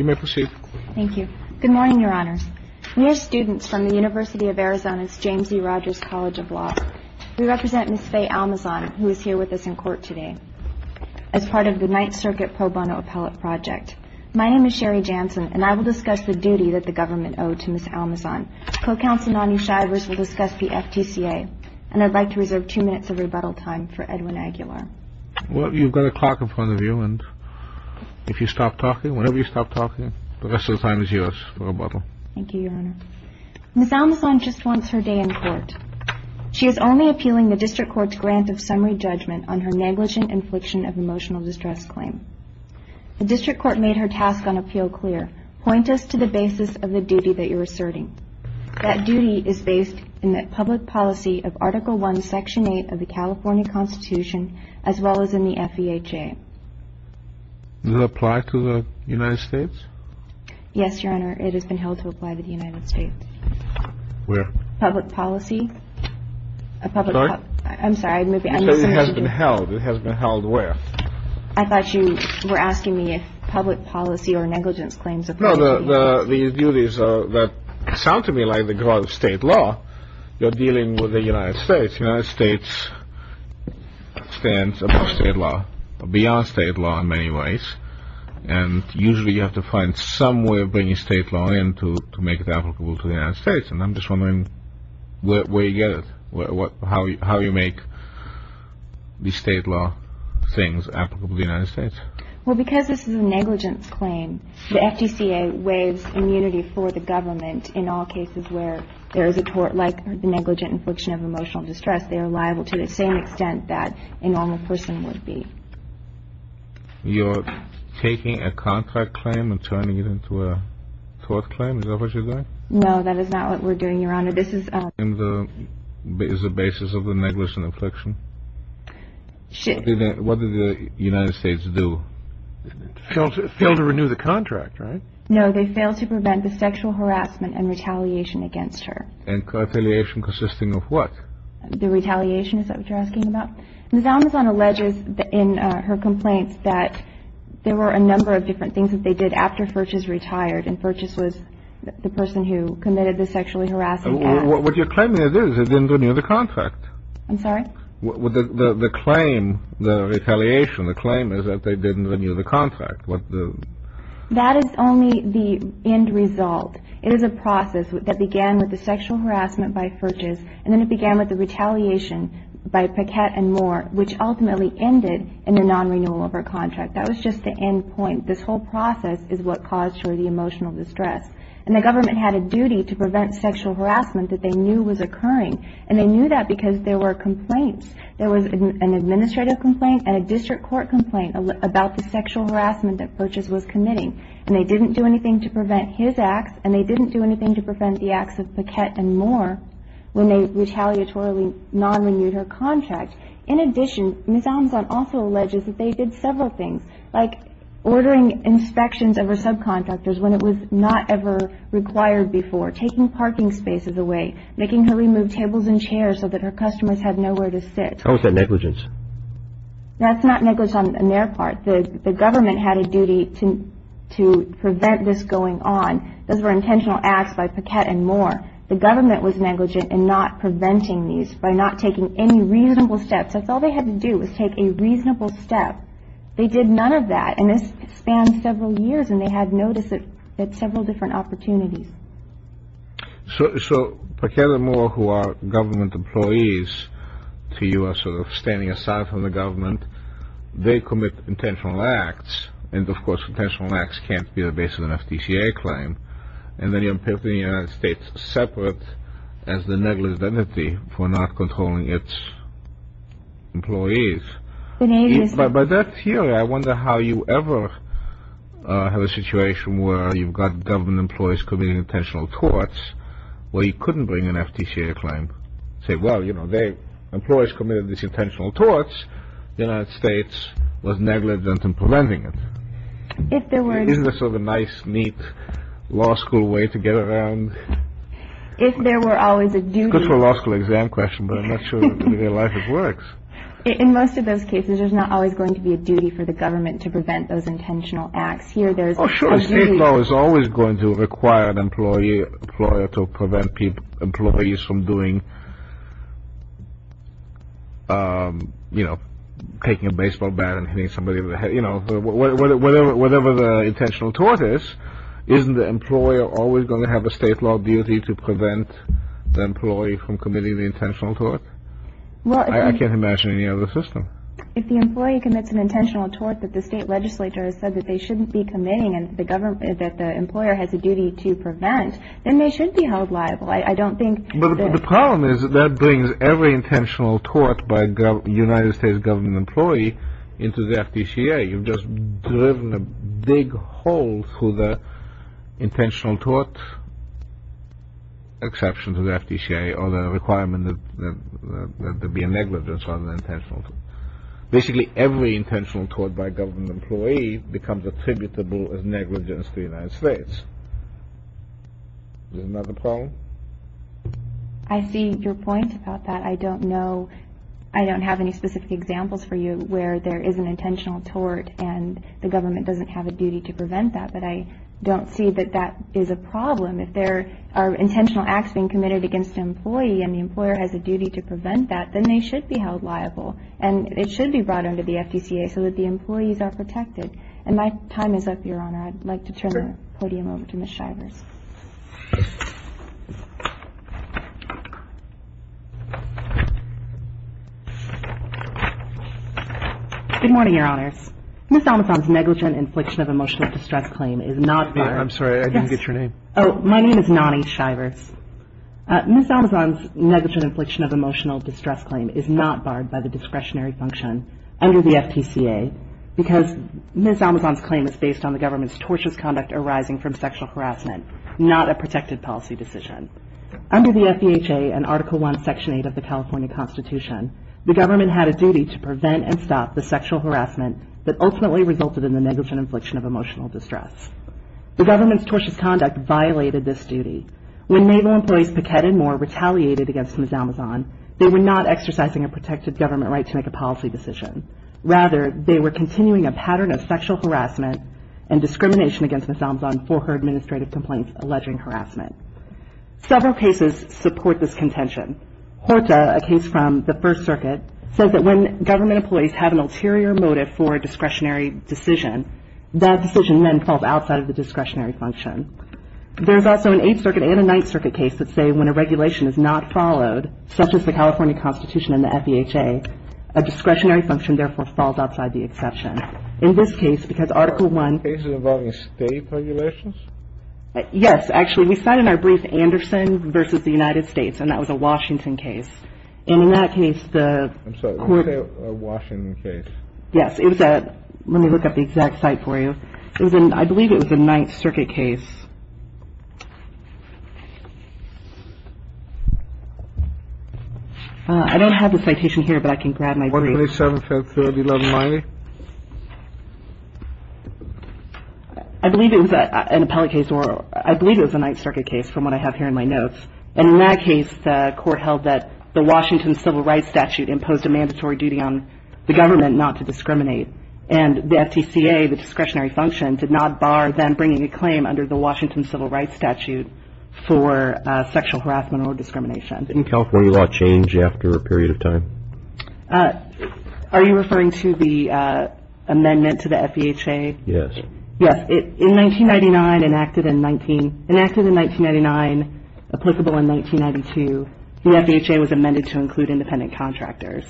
Good morning, Your Honors. We are students from the University of Arizona's James E. Rogers College of Law. We represent Ms. Faye Almazon, who is here with us in court today as part of the Ninth Circuit Pro Bono Appellate Project. My name is Sherry Jansen, and I will discuss the duty that the government owed to Ms. Almazon. Co-Counsel Nani Shivers will discuss the FTCA, and I'd like to reserve two minutes of rebuttal time for Edwin Aguilar. Well, you've got a clock in front of you, and if you stop talking, whenever you stop talking, the rest of the time is yours for rebuttal. Thank you, Your Honor. Ms. Almazon just wants her day in court. She is only appealing the District Court's grant of summary judgment on her negligent infliction of emotional distress claim. The District Court made her task on appeal clear. Point us to the basis of the duty that you're asserting. That duty is based in the public policy of Article I, Section 8 of the California Constitution, as well as in the FEHA. Does it apply to the United States? Yes, Your Honor. It has been held to apply to the United States. Where? Public policy. Sorry? I'm sorry. It has been held. It has been held where? I thought you were asking me if public policy or negligence claims apply. No, the duties that sound to me like the growth of state law, you're dealing with the United States. The United States stands above state law, beyond state law in many ways, and usually you have to find some way of bringing state law in to make it applicable to the United States, and I'm just wondering where you get it, how you make these state law things applicable to the United States. Well, because this is a negligence claim, the FDCA waives immunity for the government in all cases where there is a tort, like the negligent infliction of emotional distress, they are liable to the same extent that a normal person would be. You're taking a contract claim and turning it into a tort claim? Is that what you're doing? No, that is not what we're doing, Your Honor. This is a negligent infliction? What did the United States do? Fail to renew the contract, right? No, they failed to prevent the sexual harassment and retaliation against her. And retaliation consisting of what? The retaliation, is that what you're asking about? Ms. Almazon alleges in her complaints that there were a number of different things that they did after Furches retired, and Furches was the person who committed the sexually harassment. That is only the end result. It is a process that began with the sexual harassment by Furches, and then it began with the retaliation by Paquette and Moore, which ultimately ended in a non-renewal of her contract. That was just the end point. This whole process is what caused her emotional distress. The government had a duty to prevent sexual harassment that they knew was occurring. They knew that because there were complaints. There was an administrative complaint and a district court complaint about the sexual harassment that Furches was committing. They didn't do anything to prevent his acts, and they didn't do anything to prevent the acts of Paquette and Moore when they retaliatorily non-renewed her contract. In addition, Ms. Almazon also not ever required before taking parking spaces away, making her remove tables and chairs so that her customers had nowhere to sit. How is that negligence? That's not negligence on their part. The government had a duty to prevent this going on. Those were intentional acts by Paquette and Moore. The government was negligent in not preventing these by not taking any reasonable steps. That's all they had to do was take a reasonable step. They did none of that, and this spanned several years, and they had noticed it at several different opportunities. So Paquette and Moore, who are government employees to you, are sort of standing aside from the government. They commit intentional acts, and of course, intentional acts can't be the basis of an FTCA claim. And then you're putting the United States separate as the negligent entity for not controlling its employees. By that theory, I wonder how you ever have a situation where you've got government employees committing intentional torts, where you couldn't bring an FTCA claim and say, well, you know, employees committed these intentional torts. The United States was negligent in preventing it. Isn't this sort of a nice, neat, law school way to get around? If there were always a duty. It's good for a law school exam question, but I'm not sure in real life it works. In most of those cases, there's not always going to be a duty for the government to prevent those intentional acts. Here, there's a duty. Oh, sure. State law is always going to require an employer to prevent employees from doing, you know, taking a baseball bat and hitting somebody in the head. You know, whatever the intentional tort is, isn't the employer always going to have a state law duty to prevent the employee from committing the intentional tort? I can't imagine any other system. If the employee commits an intentional tort that the state legislator has said that they shouldn't be committing and that the employer has a duty to prevent, then they should be held liable. I don't think... But the problem is that brings every intentional tort by a United States government employee into the FTCA. You've just driven a big hole through the intentional tort exception to the FTCA or the requirement that there be a negligence rather than intentional. Basically, every intentional tort by a government employee becomes attributable as negligence to the United States. Is that not the problem? I see your point about that. I don't know. I don't have any specific examples for you where there is an intentional tort and the government doesn't have a duty to prevent that, but I don't see that that is a problem. If there are intentional acts being committed against an employee and the employer has a duty to prevent that, then they should be held liable and it should be brought under the FTCA so that the employees are protected. And my time is up, Good morning, Your Honors. Ms. Almazon's negligent infliction of emotional distress claim is not... I'm sorry, I didn't get your name. Oh, my name is Nani Shivers. Ms. Almazon's negligent infliction of emotional distress claim is not barred by the discretionary function under the FTCA because Ms. Almazon's claim is based on the government's tortious conduct arising from sexual harassment, not a protected policy decision. Under the FDHA and Article 1, Section 8 of the Constitution, Ms. Almazon's claim was to prevent and stop the sexual harassment that ultimately resulted in the negligent infliction of emotional distress. The government's tortious conduct violated this duty. When Naval employees Paquette and Moore retaliated against Ms. Almazon, they were not exercising a protected government right to make a policy decision. Rather, they were continuing a pattern of sexual harassment and discrimination against Ms. Almazon for her administrative complaints alleging harassment. Several cases support this contention. Horta, a case from the 1st Circuit, says that when government employees have an ulterior motive for a discretionary decision, that decision then falls outside of the discretionary function. There's also an 8th Circuit and a 9th Circuit case that say when a regulation is not followed, such as the California Constitution and the FDHA, a discretionary function therefore falls outside the exception. In this case, because Article 1... Cases involving state regulations? Yes, actually. We cite in our brief Anderson versus the United States, and that was a Washington case. And in that case, the court... I'm sorry, when you say a Washington case? Yes, it was a... Let me look up the exact site for you. It was in... I believe it was a 9th Circuit case. I don't have the citation here, but I can grab my brief. 127, 1030, 1190? I believe it was an appellate case, or I believe it was a 9th Circuit case from what I have here in my notes. And in that case, the court held that the Washington Civil Rights Statute imposed a mandatory duty on the government not to discriminate. And the FTCA, the discretionary function, did not bar them bringing a claim under the Washington Civil Rights Statute for sexual harassment or discrimination. Didn't California law change after a period of time? Are you referring to the amendment to the FDHA? Yes. Yes, it... In 1999, enacted in 19... Enacted in 1999, applicable in 1992, the FDHA was amended to include independent contractors.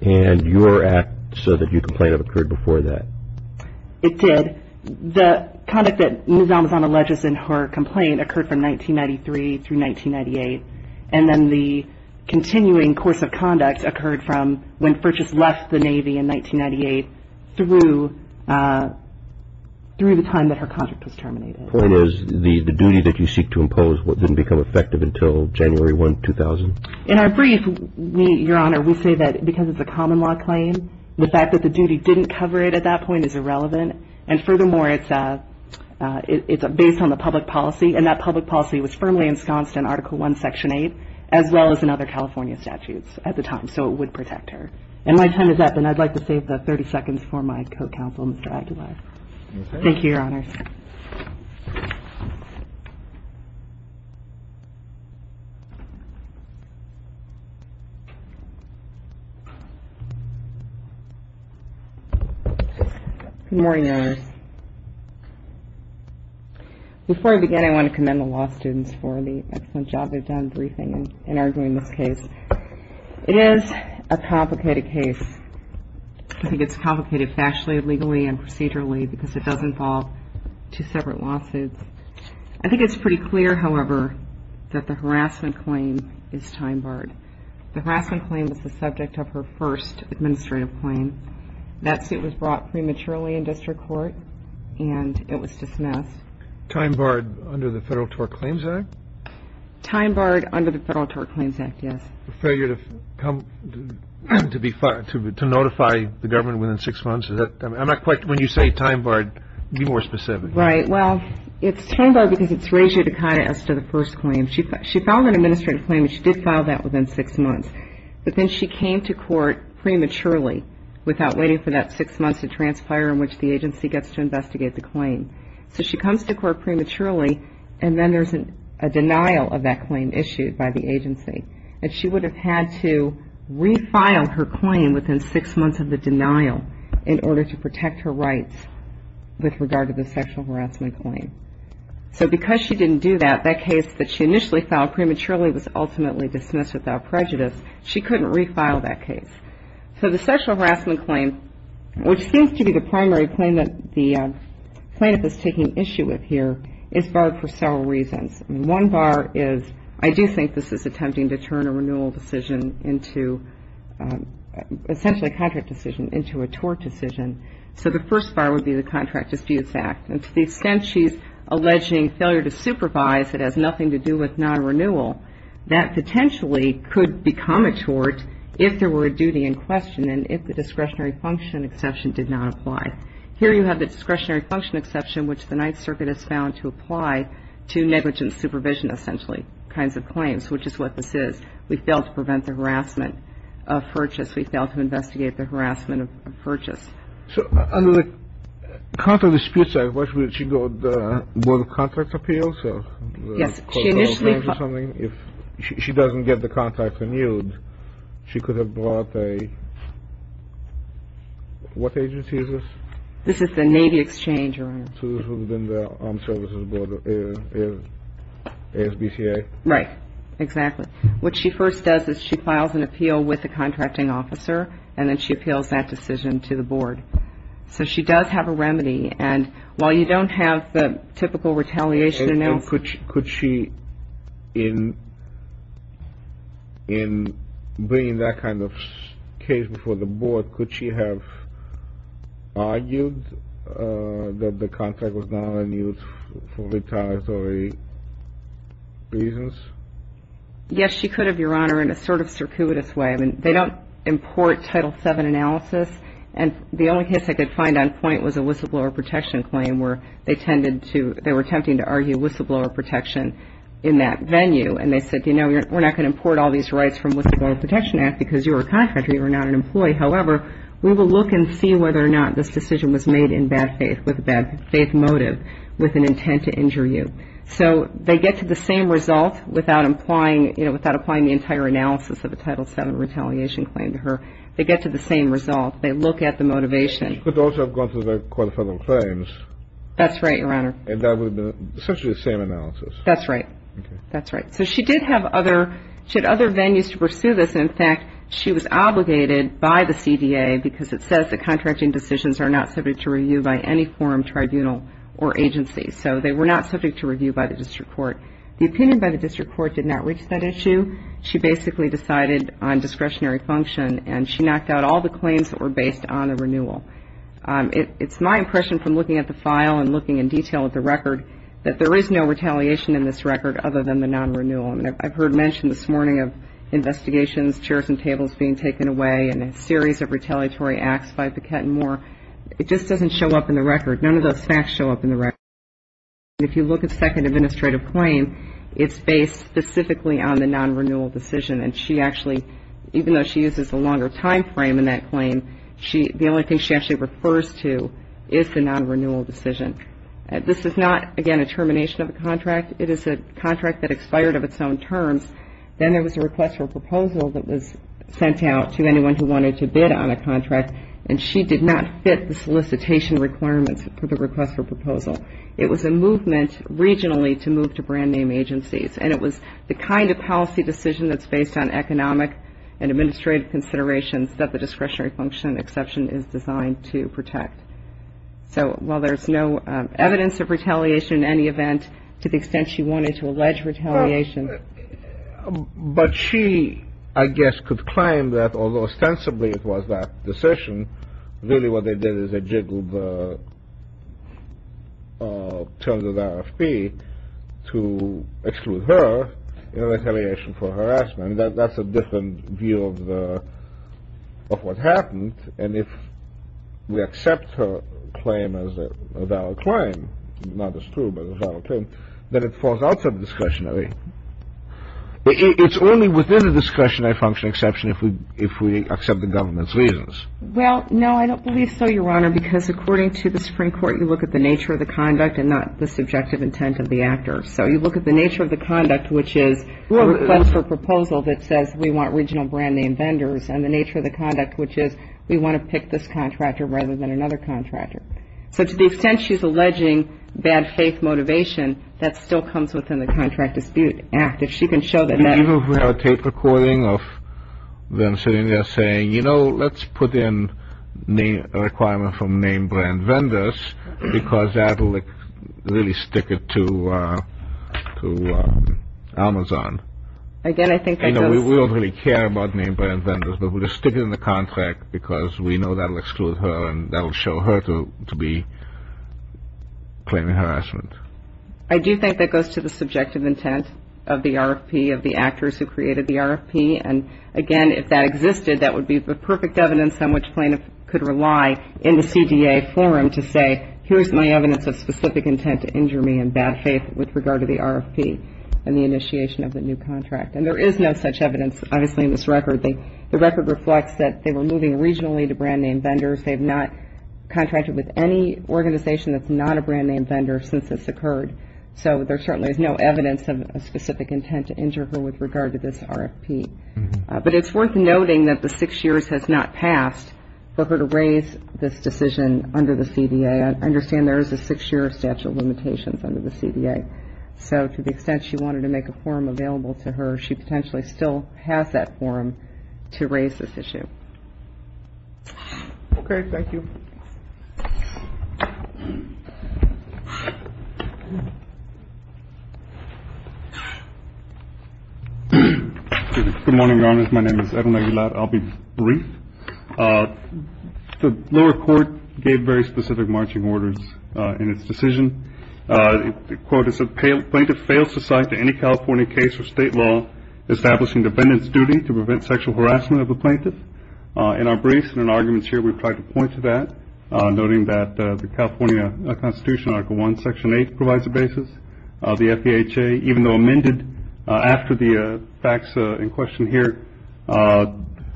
And your act says that your complaint occurred before that. It did. The conduct that Ms. Almazan alleges in her complaint occurred from 1993 through 1998, and then the continuing course of conduct occurred from when Furches left the Navy in 1998 through the time that her contract was terminated. Point is, the duty that you seek to impose didn't become effective until January 1, 2000? In our brief, Your Honor, we say that because it's a common law claim, the fact that the duty didn't cover it at that point is irrelevant. And furthermore, it's based on the public policy, and that public policy was firmly ensconced in Article I, Section 8, as well as in other California statutes at the time, so it would protect her. And my time is up, and I'd like to save the 30 seconds for my co-counsel, Mr. Aguilar. Thank you, Your Honors. Good morning, Your Honors. Before I begin, I want to commend the law students for the excellent job they've done briefing and arguing this case. It is a complicated case. I think it's complicated factually, legally, and procedurally, because it does involve two separate lawsuits. I think it's pretty clear, however, that the harassment claim is time barred. The harassment claim was the subject of her first administrative claim. That suit was brought prematurely in district court, and it was dismissed. Time barred under the Federal Tort Claims Act? Time barred under the Federal Tort Claims Act, yes. Failure to notify the government within six months? When you say time barred, be more specific. Right. Well, it's time barred because it's ratio decada as to the first claim. She filed an administrative claim, and she did file that within six months, but then she came to court prematurely without waiting for that six months to transpire in which the agency gets to investigate the claim. So she comes to court prematurely, and then there's a denial of that claim issued by the agency. And she would have had to refile her claim within six months of the denial in order to protect her rights with regard to the sexual harassment claim. So because she didn't do that, that case that she initially filed prematurely was ultimately dismissed without prejudice. She couldn't refile that case. So the sexual harassment claim, which seems to be the primary claim that the plaintiff is taking issue with here, is barred for several reasons. One bar is, I do think this is attempting to turn a renewal decision into, essentially a contract decision, into a tort decision. So the first bar would be the Contract Disputes Act. And to the extent she's alleging failure to supervise that has nothing to do with non-renewal, that potentially could become a tort if there were a duty in question and if the discretionary function exception did not apply. Here you have the discretionary function exception, which the Ninth Circuit has found to apply to negligent supervision, essentially, kinds of claims, which is what this is. We failed to prevent the harassment of Purchase. We failed to investigate the harassment of Purchase. So under the Contract Disputes Act, would she go to the Board of Contract Appeals? Yes, she initially filed. If she doesn't get the contract renewed, she could have brought a, what agency is this? This is the Navy Exchange, Your Honor. So this would have been the Armed Services Board, ASBCA? Right, exactly. What she first does is she files an appeal with the contracting officer, and then she appeals that decision to the Board. So she does have a remedy, and while you don't have the typical retaliation announcement. Could she, in bringing that kind of case before the Board, could she have argued that the contract was not renewed for retaliatory reasons? Yes, she could have, Your Honor, in a sort of circuitous way. I mean, they don't import Title VII analysis, and the only case I could find on point was a whistleblower protection claim, where they tended to, they were attempting to argue whistleblower protection in that venue, and they said, you know, we're not going to import all these rights from the Whistleblower Protection Act because you're a contractor, you're not an employee. However, we will look and see whether or not this decision was made in bad faith, with a bad faith motive, with an intent to injure you. So they get to the same result without implying, you know, without applying the entire analysis of a Title VII retaliation claim to her. They get to the same result. They look at the motivation. She could also have gone for the very qualifiable claims. That's right, Your Honor. And that would have been essentially the same analysis. That's right. That's right. So she did have other, she had other venues to pursue this. In fact, she was obligated by the CDA because it says that contracting decisions are not subject to review by any forum, tribunal, or agency. So they were not subject to review by the District Court. The opinion by the District Court did not reach that issue. She basically decided on discretionary function, and she knocked out all the claims that were based on a renewal. It's my impression from looking at the file and looking in detail at the record that there is no retaliation in this record other than the non-renewal. I mean, this morning of investigations, chairs and tables being taken away, and a series of retaliatory acts by Paquette and Moore. It just doesn't show up in the record. None of those facts show up in the record. If you look at the second administrative claim, it's based specifically on the non-renewal decision. And she actually, even though she uses a longer time frame in that claim, the only thing she actually refers to is the non-renewal decision. This is not, again, a termination of a contract. It is a contract that expired of its own terms. Then there was a request for proposal that was sent out to anyone who wanted to bid on a contract, and she did not fit the solicitation requirements for the request for proposal. It was a movement regionally to move to brand name agencies, and it was the kind of policy decision that's based on economic and administrative considerations that the discretionary function exception is designed to protect. So, while there's no evidence of retaliation in any but she, I guess, could claim that although ostensibly it was that decision, really what they did is they jiggled the terms of the RFP to exclude her in retaliation for harassment. That's a different view of what happened, and if we accept her claim as a valid claim, not as true, but as a valid claim, then it falls outside the discretionary. It's only within the discretionary function exception if we accept the government's reasons. Well, no, I don't believe so, Your Honor, because according to the Supreme Court, you look at the nature of the conduct and not the subjective intent of the actor. So, you look at the nature of the conduct, which is a request for proposal that says we want regional brand name vendors, and the nature of the conduct, which is we want to pick this bad faith motivation, that still comes within the Contract Dispute Act. If she can show that. Do you have a tape recording of them sitting there saying, you know, let's put in a requirement from name brand vendors because that will really stick it to Amazon. Again, I think that does. We don't really care about name brand vendors, but we'll just stick it in the contract because we know that will exclude her and that will show her to be claiming harassment. I do think that goes to the subjective intent of the RFP, of the actors who created the RFP. And again, if that existed, that would be the perfect evidence on which plaintiff could rely in the CDA forum to say, here's my evidence of specific intent to injure me in bad faith with regard to the RFP and the initiation of the new contract. And there is no such evidence, obviously, in this record. The record reflects that they were moving regionally to brand name vendors. They've not contracted with any organization that's not a brand name vendor since this occurred. So there certainly is no evidence of a specific intent to injure her with regard to this RFP. But it's worth noting that the six years has not passed for her to raise this decision under the CDA. I understand there is a six year statute of limitations under the CDA. So to the extent she wanted to make a forum available to her, she potentially still has that forum to raise this issue. Okay, thank you. Good morning, Your Honors. My name is Edwin Aguilar. I'll be brief. The lower court gave very specific marching orders in its decision. Quote, it said, plaintiff fails to cite to any California case or state law establishing defendant's duty to prevent sexual harassment of a plaintiff. In our briefs and in arguments here, we've tried to point to that, noting that the California Constitution, Article I, Section 8, provides a basis. The FDHA, even though amended after the facts in question here,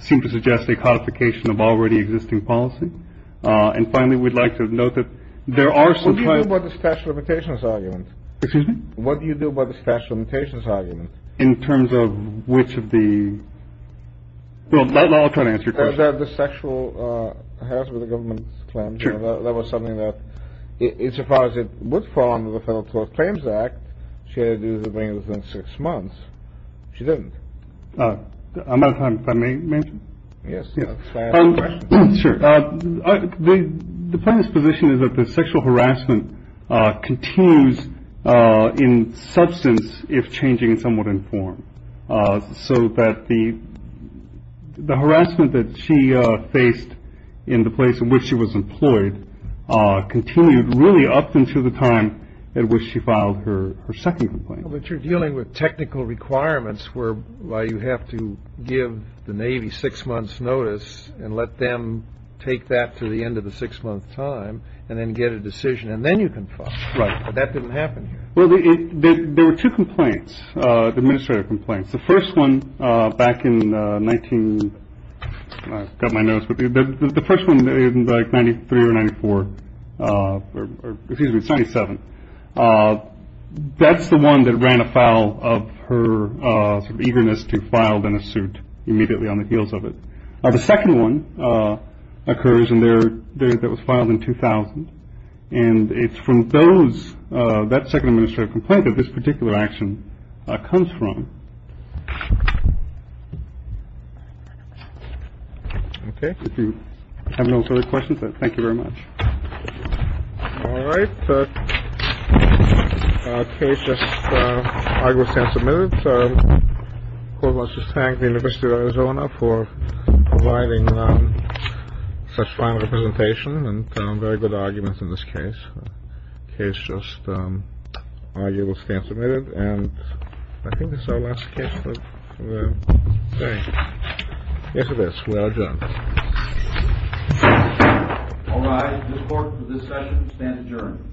seem to suggest a codification of already existing policy. And finally, we'd like to note that there are some... What do you do about the statute of limitations argument? Excuse me? What do you do about the statute of limitations argument? In terms of which of the... Well, I'll try to answer your question. Is that the sexual harassment of the government's claim? Sure. That was something that, as far as it would fall under the Federal Tort Claims Act, she had to do to bring it within six months. She didn't. I'm out of time. If I may mention? Yes. Sure. The plaintiff's position is that the sexual harassment continues in substance if changing somewhat in form. So that the harassment that she faced in the place in which she was employed continued really up until the time at which she filed her second complaint. But you're dealing with technical requirements where you have to give the Navy six months' notice and let them take that to the end of the six-month time and then get a decision. And then you can file. Right. But that didn't happen here. Well, there were two complaints, administrative complaints. The first one back in 19... I've got my notes. But the first one in, like, 93 or 94, or excuse me, it's 97. That's the one that ran afoul of her sort of eagerness to file in a suit immediately on the heels of it. The second one occurs in there that was filed in 2000. And it's from those that second administrative complaint that this particular action comes from. OK. If you have no further questions, thank you very much. All right. Case just submitted. So let's just thank the University of Arizona for providing such fine representation and very good arguments in this case. The case just arguably stands admitted. And I think this is our last case for the day. Yes, it is. We are adjourned. All rise. This court for this session stands adjourned. Thank you.